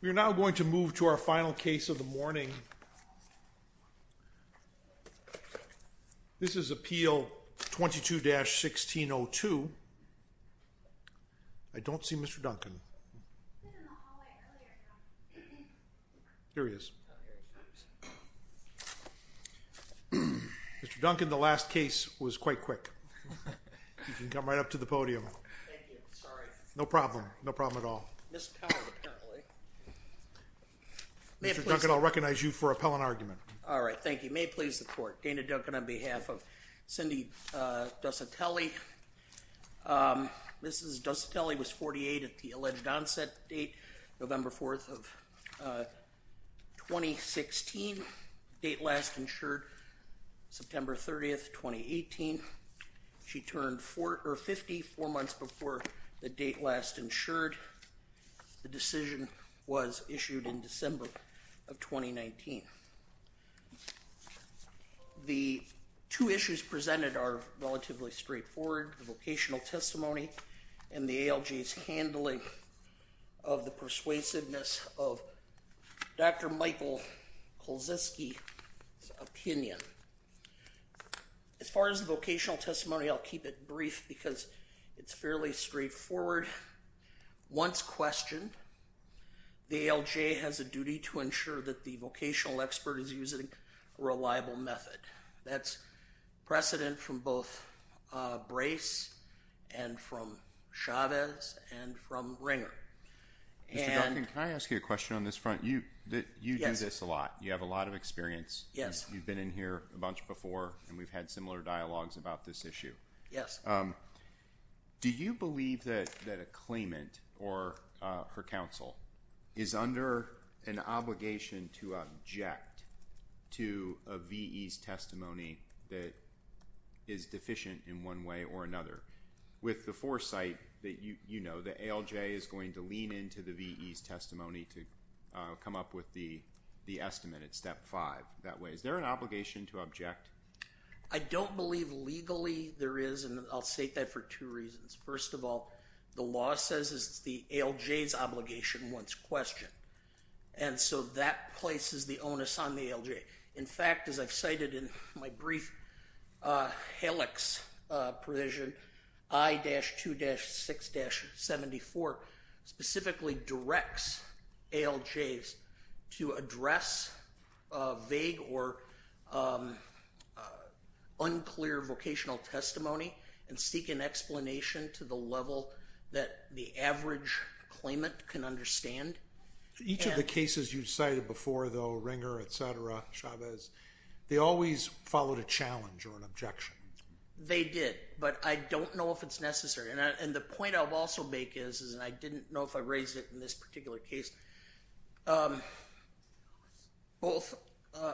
We are now going to move to our final case of the morning. This is Appeal 22-1602. I don't see Mr. Duncan. Here he is. Mr. Duncan, the last case was quite quick. You can come right up to the podium. No problem, no problem at all. Mr. Duncan, I'll recognize you for appellant argument. All right. Thank you. May it please the court. Dana Duncan on behalf of Cindy Desotelle. Mrs. Desotelle was 48 at the alleged onset date, November 4th of 2016. Date last insured September 30th, 2018. She turned 54 months before the date last insured. The decision was issued in December of 2019. The two issues presented are relatively straightforward. The vocational testimony and the ALJ's handling of the persuasiveness of Dr. Michael Kulczewski's opinion. As far as the vocational testimony, I'll keep it brief because it's fairly straightforward. Once questioned, the ALJ has a duty to ensure that the vocational expert is using a reliable method. That's precedent from both Brace and from Chavez and from Ringer. Mr. Duncan, can I ask you a question on this front? You do this a lot. You have a lot of experience. Yes. You've been in here a bunch before and we've had similar dialogues about this issue. Yes. Do you believe that a claimant or her counsel is under an obligation to object to a VE's testimony that is deficient in one way or another? With the foresight that you know, the ALJ is going to lean into the VE's testimony to come up with the estimate at step five that way. Is there an obligation to object? I don't believe legally there is, and I'll state that for two reasons. First of all, the law says it's the ALJ's obligation once questioned, and so that places the onus on the ALJ. In fact, as I've cited in my brief, HALIX provision, I-2-6-74 specifically directs ALJs to address vague or unclear vocational testimony and seek an explanation to the level that the average claimant can understand. Each of the cases you've cited before though, Ringer, et cetera, Chavez, they always followed a challenge or an objection. They did, but I don't know if it's necessary. And the point I'll also make is, and I didn't know if I raised it in this particular case, both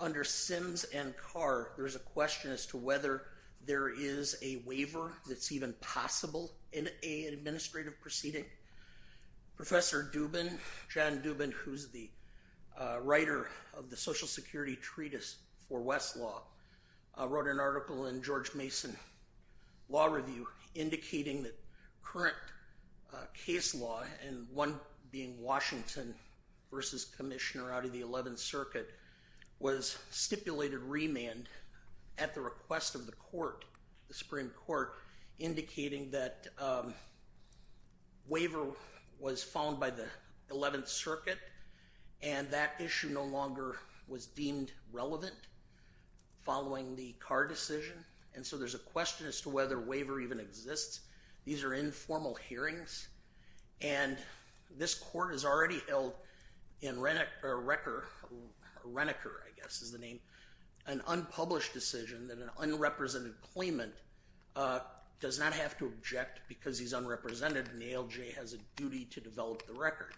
under Sims and Carr, there's a question as to whether there is a waiver that's even possible in an administrative proceeding. Professor Dubin, John Dubin, who's the writer of the Social Security Treatise for Westlaw, wrote an article in George Mason Law Review indicating that current case law, and one being Washington versus Commissioner out of the 11th Circuit, was stipulated remand at the request of the court, the Supreme Court, indicating that waiver was found by the 11th Circuit and that issue no longer was deemed relevant following the Carr decision. And so there's a question as to whether waiver even exists. These are informal hearings, and this court has already held in Reneker, I guess is the name, an unpublished decision that an unrepresented claimant does not have to object because he's unrepresented and ALJ has a duty to develop the record.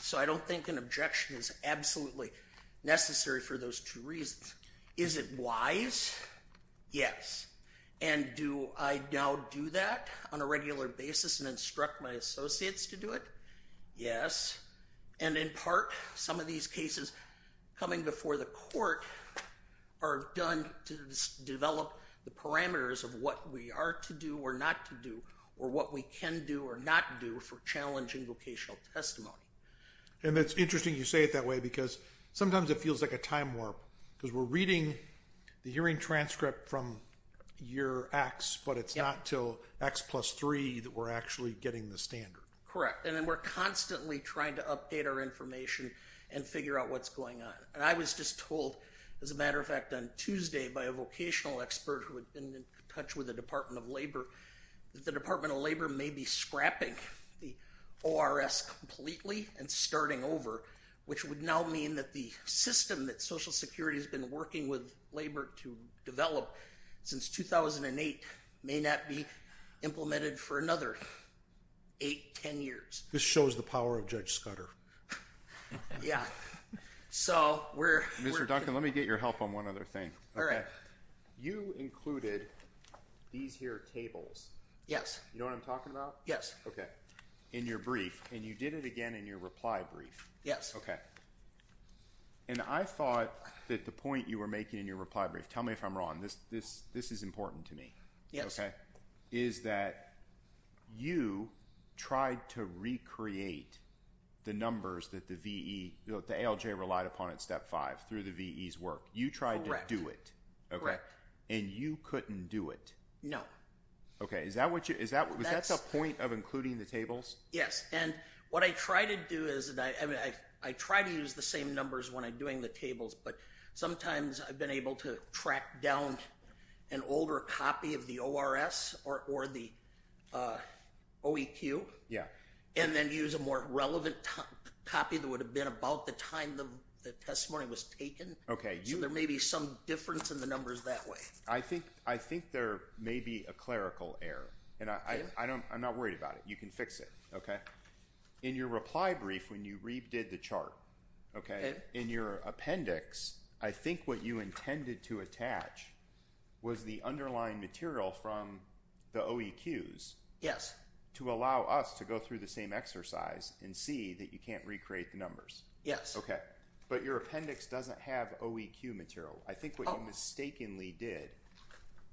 So I don't think an objection is absolutely necessary for those two reasons. Is it wise? Yes. And do I now do that on a regular basis and instruct my associates to do it? Yes. And in part, some of these cases coming before the court are done to develop the parameters of what we are to do or not to do or what we can do or not do for challenging vocational testimony. And it's interesting you say it that way because sometimes it feels like a time warp because we're reading the hearing transcript from year X, but it's not till X plus three that we're actually getting the standard. Correct. And then we're constantly trying to update our information and figure out what's going on. And I was just told, as a matter of fact, on Tuesday by a vocational expert who had been in touch with the Department of Labor that the Department of Labor may be scrapping the ORS completely and starting over, which would now mean that the system that Social Security has been working with Labor to develop since 2008 may not be implemented for another eight, ten years. This shows the power of Judge Scudder. Yeah. Mr. Duncan, let me get your help on one other thing. All right. You included these here tables. Yes. You know what I'm talking about? Yes. In your brief, and you did it again in your reply brief. Yes. Okay. And I thought that the point you were making in your reply brief, tell me if I'm wrong, this is important to me. Yes. Okay. Is that you tried to recreate the numbers that the VE, the ALJ relied upon at step five through the VE's work. You tried to do it. Correct. Okay. And you couldn't do it. No. Okay. Is that what you, was that the point of including the tables? Yes. And what I try to do is, I try to use the same numbers when I'm doing the tables, but sometimes I've been able to track down an older copy of the ORS or the OEQ. Yeah. And then use a more relevant copy that would have been about the time the testimony was taken. Okay. So there may be some difference in the numbers that way. I think there may be a clerical error. And I'm not worried about it. You can fix it. Okay. In your reply brief, when you redid the chart, okay, in your appendix, I think what you intended to attach was the underlying material from the OEQs. Yes. To allow us to go through the same exercise and see that you can't recreate the numbers. Yes. Okay. But your appendix doesn't have OEQ material. I think what you mistakenly did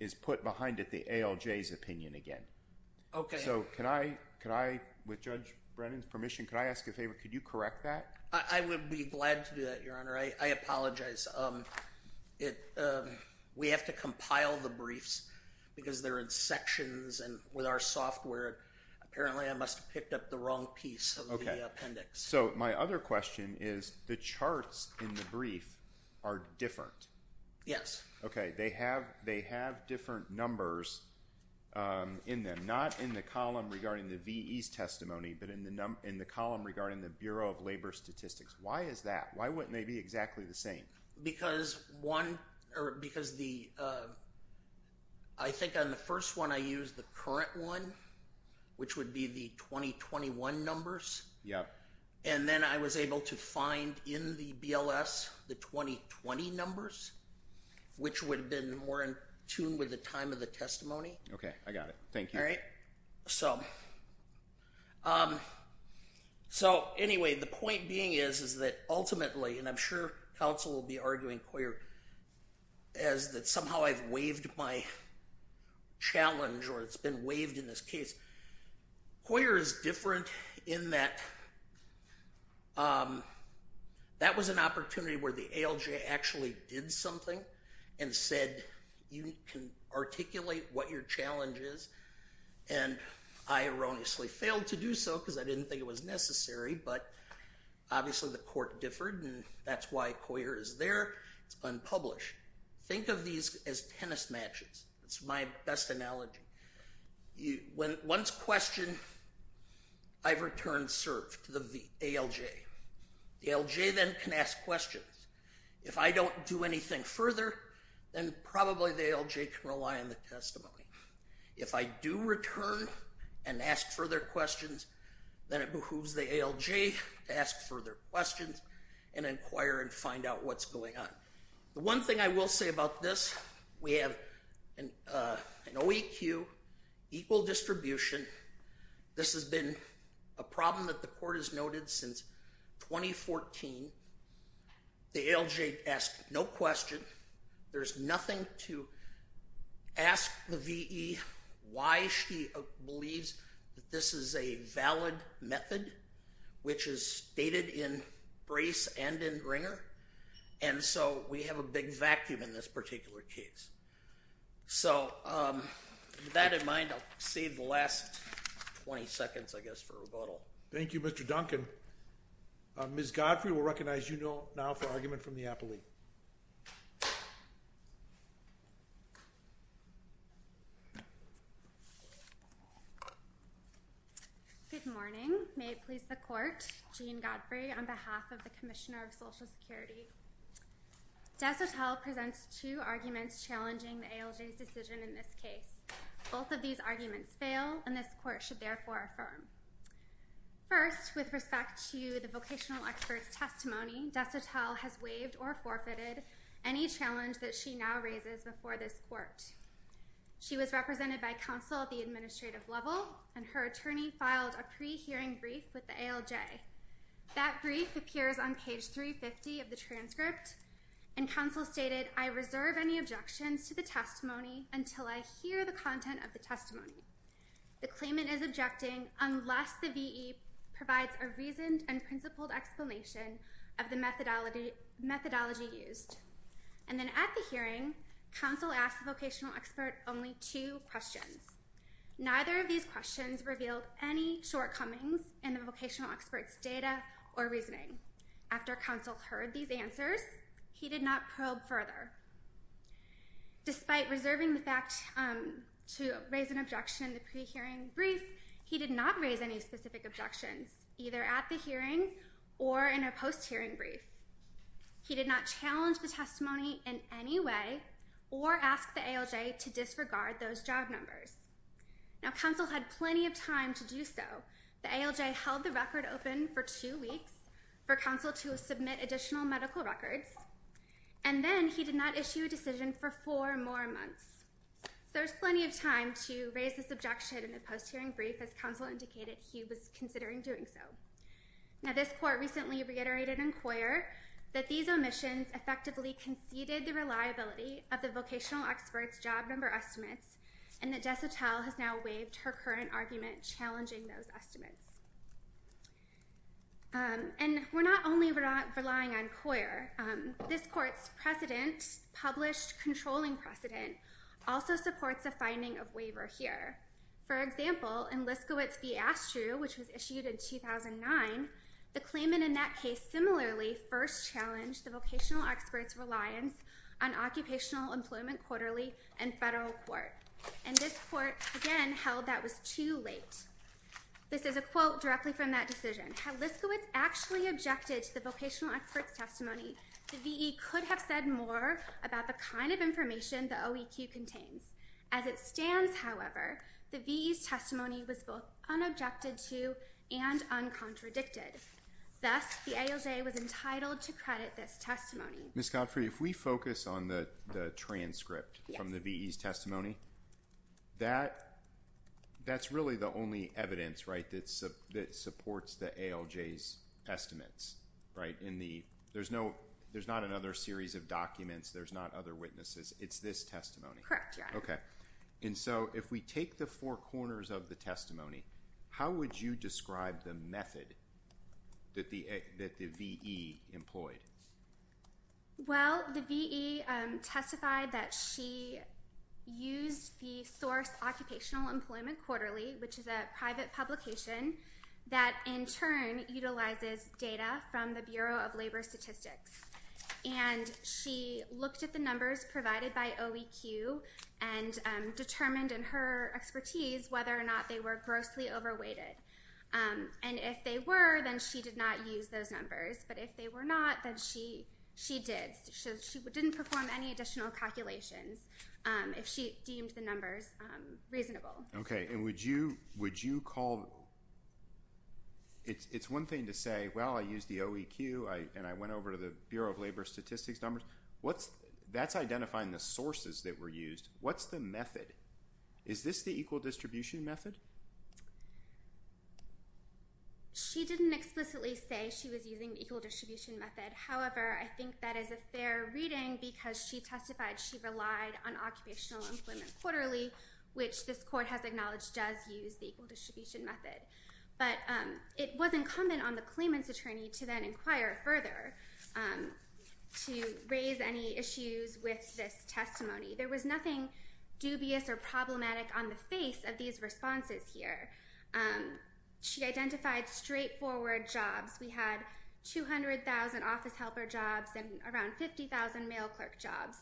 is put behind it the ALJ's opinion again. Okay. So can I, with Judge Brennan's permission, can I ask a favor? Could you correct that? I would be glad to do that, Your Honor. I apologize. We have to compile the briefs because they're in sections, and with our software, apparently I must have picked up the wrong piece of the appendix. Okay. So my other question is the charts in the brief are different. Yes. Okay. They have different numbers in them, not in the column regarding the VE's testimony, but in the column regarding the Bureau of Labor Statistics. Why is that? Why wouldn't they be exactly the same? Because I think on the first one I used the current one, which would be the 2021 numbers. Yep. And then I was able to find in the BLS the 2020 numbers, which would have been more in tune with the time of the testimony. Okay. Thank you. All right. So anyway, the point being is that ultimately, and I'm sure counsel will be arguing, Coyer, is that somehow I've waived my challenge or it's been waived in this case. Coyer is different in that that was an opportunity where the ALJ actually did something and said you can articulate what your challenge is. And I erroneously failed to do so because I didn't think it was necessary, but obviously the court differed and that's why Coyer is there. It's unpublished. Think of these as tennis matches. That's my best analogy. Once questioned, I've returned serve to the ALJ. The ALJ then can ask questions. If I don't do anything further, then probably the ALJ can rely on the testimony. If I do return and ask further questions, then it behooves the ALJ to ask further questions and inquire and find out what's going on. The one thing I will say about this, we have an OEQ, equal distribution. This has been a problem that the court has noted since 2014. The ALJ asked no question. There's nothing to ask the VE why she believes that this is a valid method, which is stated in Brace and in Ringer. And so we have a big vacuum in this particular case. So with that in mind, I'll save the last 20 seconds, I guess, for rebuttal. Thank you, Mr. Duncan. Ms. Godfrey will recognize you now for argument from the appellee. Good morning. May it please the court. Jean Godfrey on behalf of the Commissioner of Social Security. Desotel presents two arguments challenging the ALJ's decision in this case. Both of these arguments fail, and this court should therefore affirm. First, with respect to the vocational expert's testimony, Desotel has waived or forfeited any challenge that she now raises before this court. She was represented by counsel at the administrative level, and her attorney filed a pre-hearing brief with the ALJ. That brief appears on page 350 of the transcript, and counsel stated, I reserve any objections to the testimony until I hear the content of the testimony. The claimant is objecting unless the V.E. provides a reasoned and principled explanation of the methodology used. And then at the hearing, counsel asked the vocational expert only two questions. Neither of these questions revealed any shortcomings in the vocational expert's data or reasoning. After counsel heard these answers, he did not probe further. Despite reserving the fact to raise an objection in the pre-hearing brief, he did not raise any specific objections, either at the hearing or in a post-hearing brief. He did not challenge the testimony in any way or ask the ALJ to disregard those job numbers. Now, counsel had plenty of time to do so. The ALJ held the record open for two weeks for counsel to submit additional medical records, and then he did not issue a decision for four more months. So there's plenty of time to raise this objection in the post-hearing brief, as counsel indicated he was considering doing so. Now, this court recently reiterated in Coyer that these omissions effectively conceded the reliability of the vocational expert's job number estimates, and that DeSotel has now waived her current argument challenging those estimates. And we're not only relying on Coyer. This court's precedent, published controlling precedent, also supports a finding of waiver here. For example, in Liskowitz v. Astrew, which was issued in 2009, the claimant in that case similarly first challenged the vocational expert's reliance on occupational employment quarterly and federal court. And this court, again, held that was too late. This is a quote directly from that decision. Had Liskowitz actually objected to the vocational expert's testimony, the V.E. could have said more about the kind of information the OEQ contains. As it stands, however, the V.E.'s testimony was both unobjected to and uncontradicted. Thus, the ALJ was entitled to credit this testimony. Ms. Godfrey, if we focus on the transcript from the V.E.'s testimony, that's really the only evidence, right, that supports the ALJ's estimates, right? There's not another series of documents. There's not other witnesses. It's this testimony. Correct, yeah. Okay. And so if we take the four corners of the testimony, how would you describe the method that the V.E. employed? Well, the V.E. testified that she used the source Occupational Employment Quarterly, which is a private publication that in turn utilizes data from the Bureau of Labor Statistics. And she looked at the numbers provided by OEQ and determined in her expertise whether or not they were grossly overweighted. And if they were, then she did not use those numbers. But if they were not, then she did. She didn't perform any additional calculations if she deemed the numbers reasonable. Okay. And would you call – it's one thing to say, well, I used the OEQ and I went over to the Bureau of Labor Statistics numbers. That's identifying the sources that were used. What's the method? Is this the equal distribution method? Okay. She didn't explicitly say she was using the equal distribution method. However, I think that is a fair reading because she testified she relied on Occupational Employment Quarterly, which this court has acknowledged does use the equal distribution method. But it was incumbent on the claimant's attorney to then inquire further to raise any issues with this testimony. There was nothing dubious or problematic on the face of these responses here. She identified straightforward jobs. We had 200,000 office helper jobs and around 50,000 mail clerk jobs.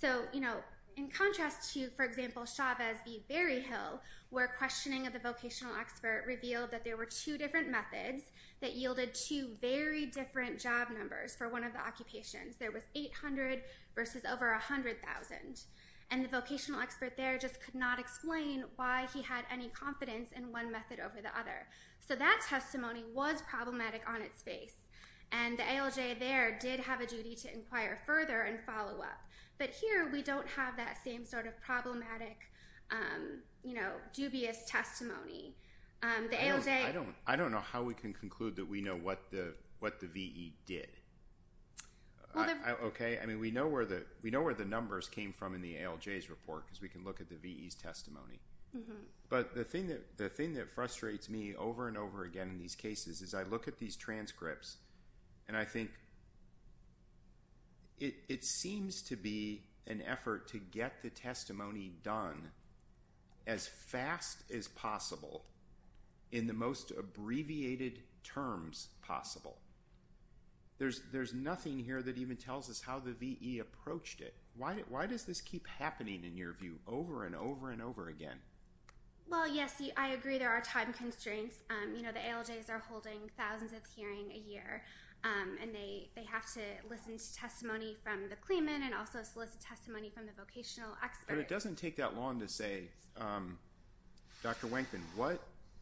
So, you know, in contrast to, for example, Chavez v. Berryhill, where questioning of the vocational expert revealed that there were two different methods that yielded two very different job numbers for one of the occupations. There was 800 versus over 100,000. And the vocational expert there just could not explain why he had any confidence in one method over the other. So that testimony was problematic on its face. And the ALJ there did have a duty to inquire further and follow up. But here we don't have that same sort of problematic, you know, dubious testimony. The ALJ... I don't know how we can conclude that we know what the VE did. Okay. I mean, we know where the numbers came from in the ALJ's report because we can look at the VE's testimony. But the thing that frustrates me over and over again in these cases is I look at these transcripts and I think it seems to be an effort to get the testimony done as fast as possible in the most abbreviated terms possible. There's nothing here that even tells us how the VE approached it. Why does this keep happening, in your view, over and over and over again? Well, yes. I agree there are time constraints. You know, the ALJs are holding thousands of hearings a year. And they have to listen to testimony from the claimant and also solicit testimony from the vocational expert. But it doesn't take that long to say, Dr. Wankin,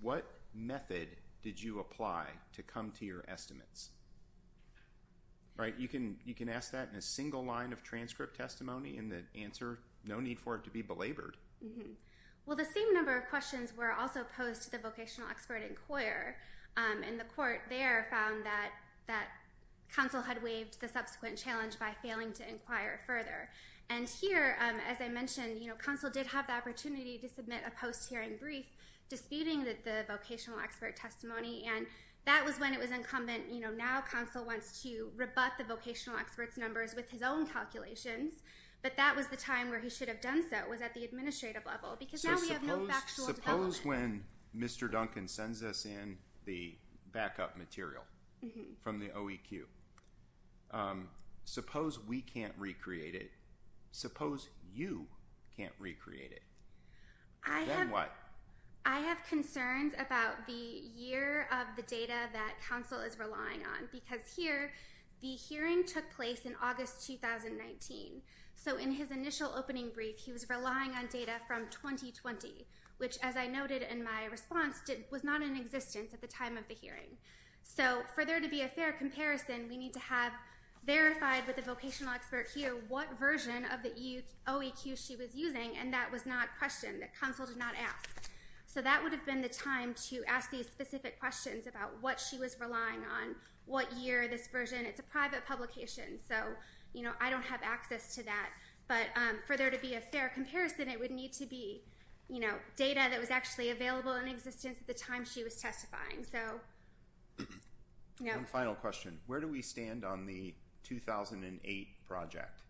what method did you apply to come to your estimates? Right? You can ask that in a single line of transcript testimony and then answer. No need for it to be belabored. Well, the same number of questions were also posed to the vocational expert inquirer. And the court there found that counsel had waived the subsequent challenge by failing to inquire further. And here, as I mentioned, counsel did have the opportunity to submit a post-hearing brief disputing the vocational expert testimony. And that was when it was incumbent. Now counsel wants to rebut the vocational expert's numbers with his own calculations. But that was the time where he should have done so, was at the administrative level. Because now we have no factual development. Suppose when Mr. Duncan sends us in the backup material from the OEQ, suppose we can't recreate it. Suppose you can't recreate it. Then what? I have concerns about the year of the data that counsel is relying on. Because here, the hearing took place in August 2019. So in his initial opening brief, he was relying on data from 2020. Which, as I noted in my response, was not in existence at the time of the hearing. So for there to be a fair comparison, we need to have verified with the vocational expert here what version of the OEQ she was using. And that was not questioned, that counsel did not ask. So that would have been the time to ask these specific questions about what she was relying on, what year, this version. It's a private publication, so I don't have access to that. But for there to be a fair comparison, it would need to be data that was actually available in existence at the time she was testifying. One final question. Where do we stand on the 2008 project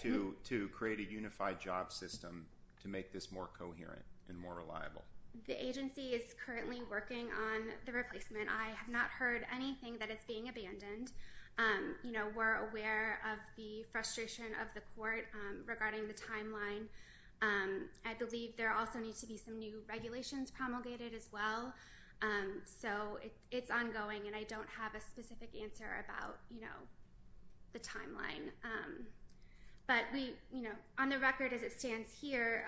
to create a unified job system to make this more coherent and more reliable? The agency is currently working on the replacement. I have not heard anything that it's being abandoned. We're aware of the frustration of the court regarding the timeline. I believe there also needs to be some new regulations promulgated as well. So it's ongoing and I don't have a specific answer about the timeline. But on the record as it stands here,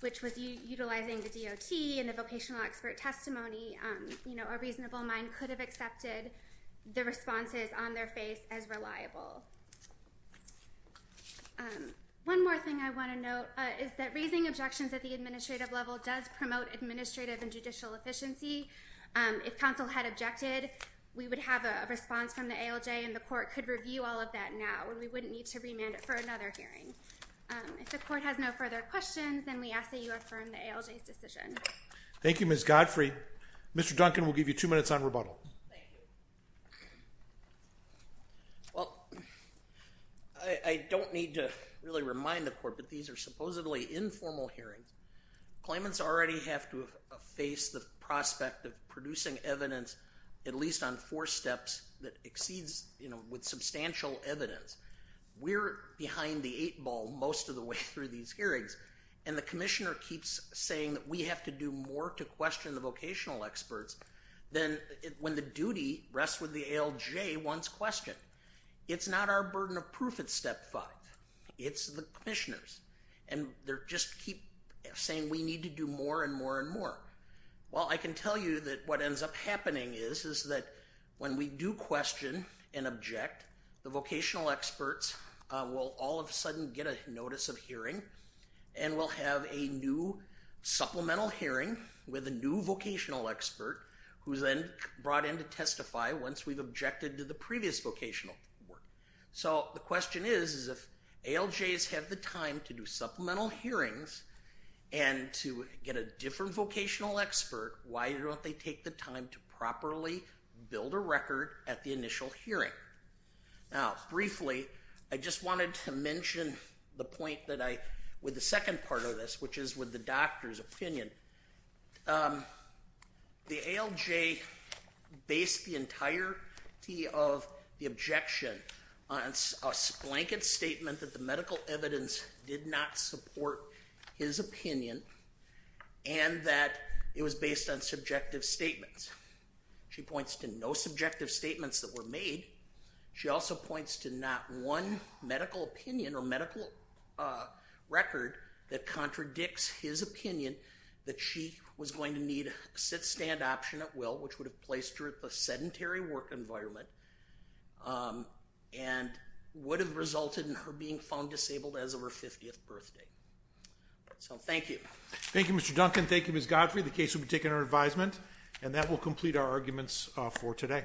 which was utilizing the DOT and the vocational expert testimony, a reasonable mind could have accepted the responses on their face as reliable. One more thing I want to note is that raising objections at the administrative level does promote administrative and judicial efficiency. If counsel had objected, we would have a response from the ALJ and the court could review all of that now. We wouldn't need to remand it for another hearing. If the court has no further questions, then we ask that you affirm the ALJ's decision. Thank you, Ms. Godfrey. Mr. Duncan, we'll give you two minutes on rebuttal. I don't need to really remind the court, but these are supposedly informal hearings. Claimants already have to face the prospect of producing evidence at least on four steps that exceeds with substantial evidence. We're behind the eight ball most of the way through these hearings and the commissioner keeps saying that we have to do more to question the vocational experts than when the duty rests with the ALJ once questioned. It's not our burden of proof at step five. It's the commissioner's, and they just keep saying we need to do more and more and more. Well, I can tell you that what ends up happening is that when we do question and object, the vocational experts will all of a sudden get a notice of hearing and we'll have a new supplemental hearing with a new vocational expert who's then brought in to testify once we've objected to the previous vocational work. So the question is if ALJs have the time to do supplemental hearings and to get a different vocational expert, why don't they take the time to properly build a record at the initial hearing? Now, briefly, I just wanted to mention the point with the second part of this, which is with the doctor's opinion. The ALJ based the entirety of the objection on a blanket statement that the medical evidence did not support his opinion and that it was based on subjective statements. She points to no subjective statements that were made. She also points to not one medical opinion or medical record that contradicts his opinion that she was going to need a sit-stand option at will, which would have placed her in a sedentary work environment and would have resulted in her being found disabled as of her 50th birthday. So thank you. Thank you, Mr. Duncan. Thank you, Ms. Godfrey. The case will be taken under advisement, and that will complete our arguments for today.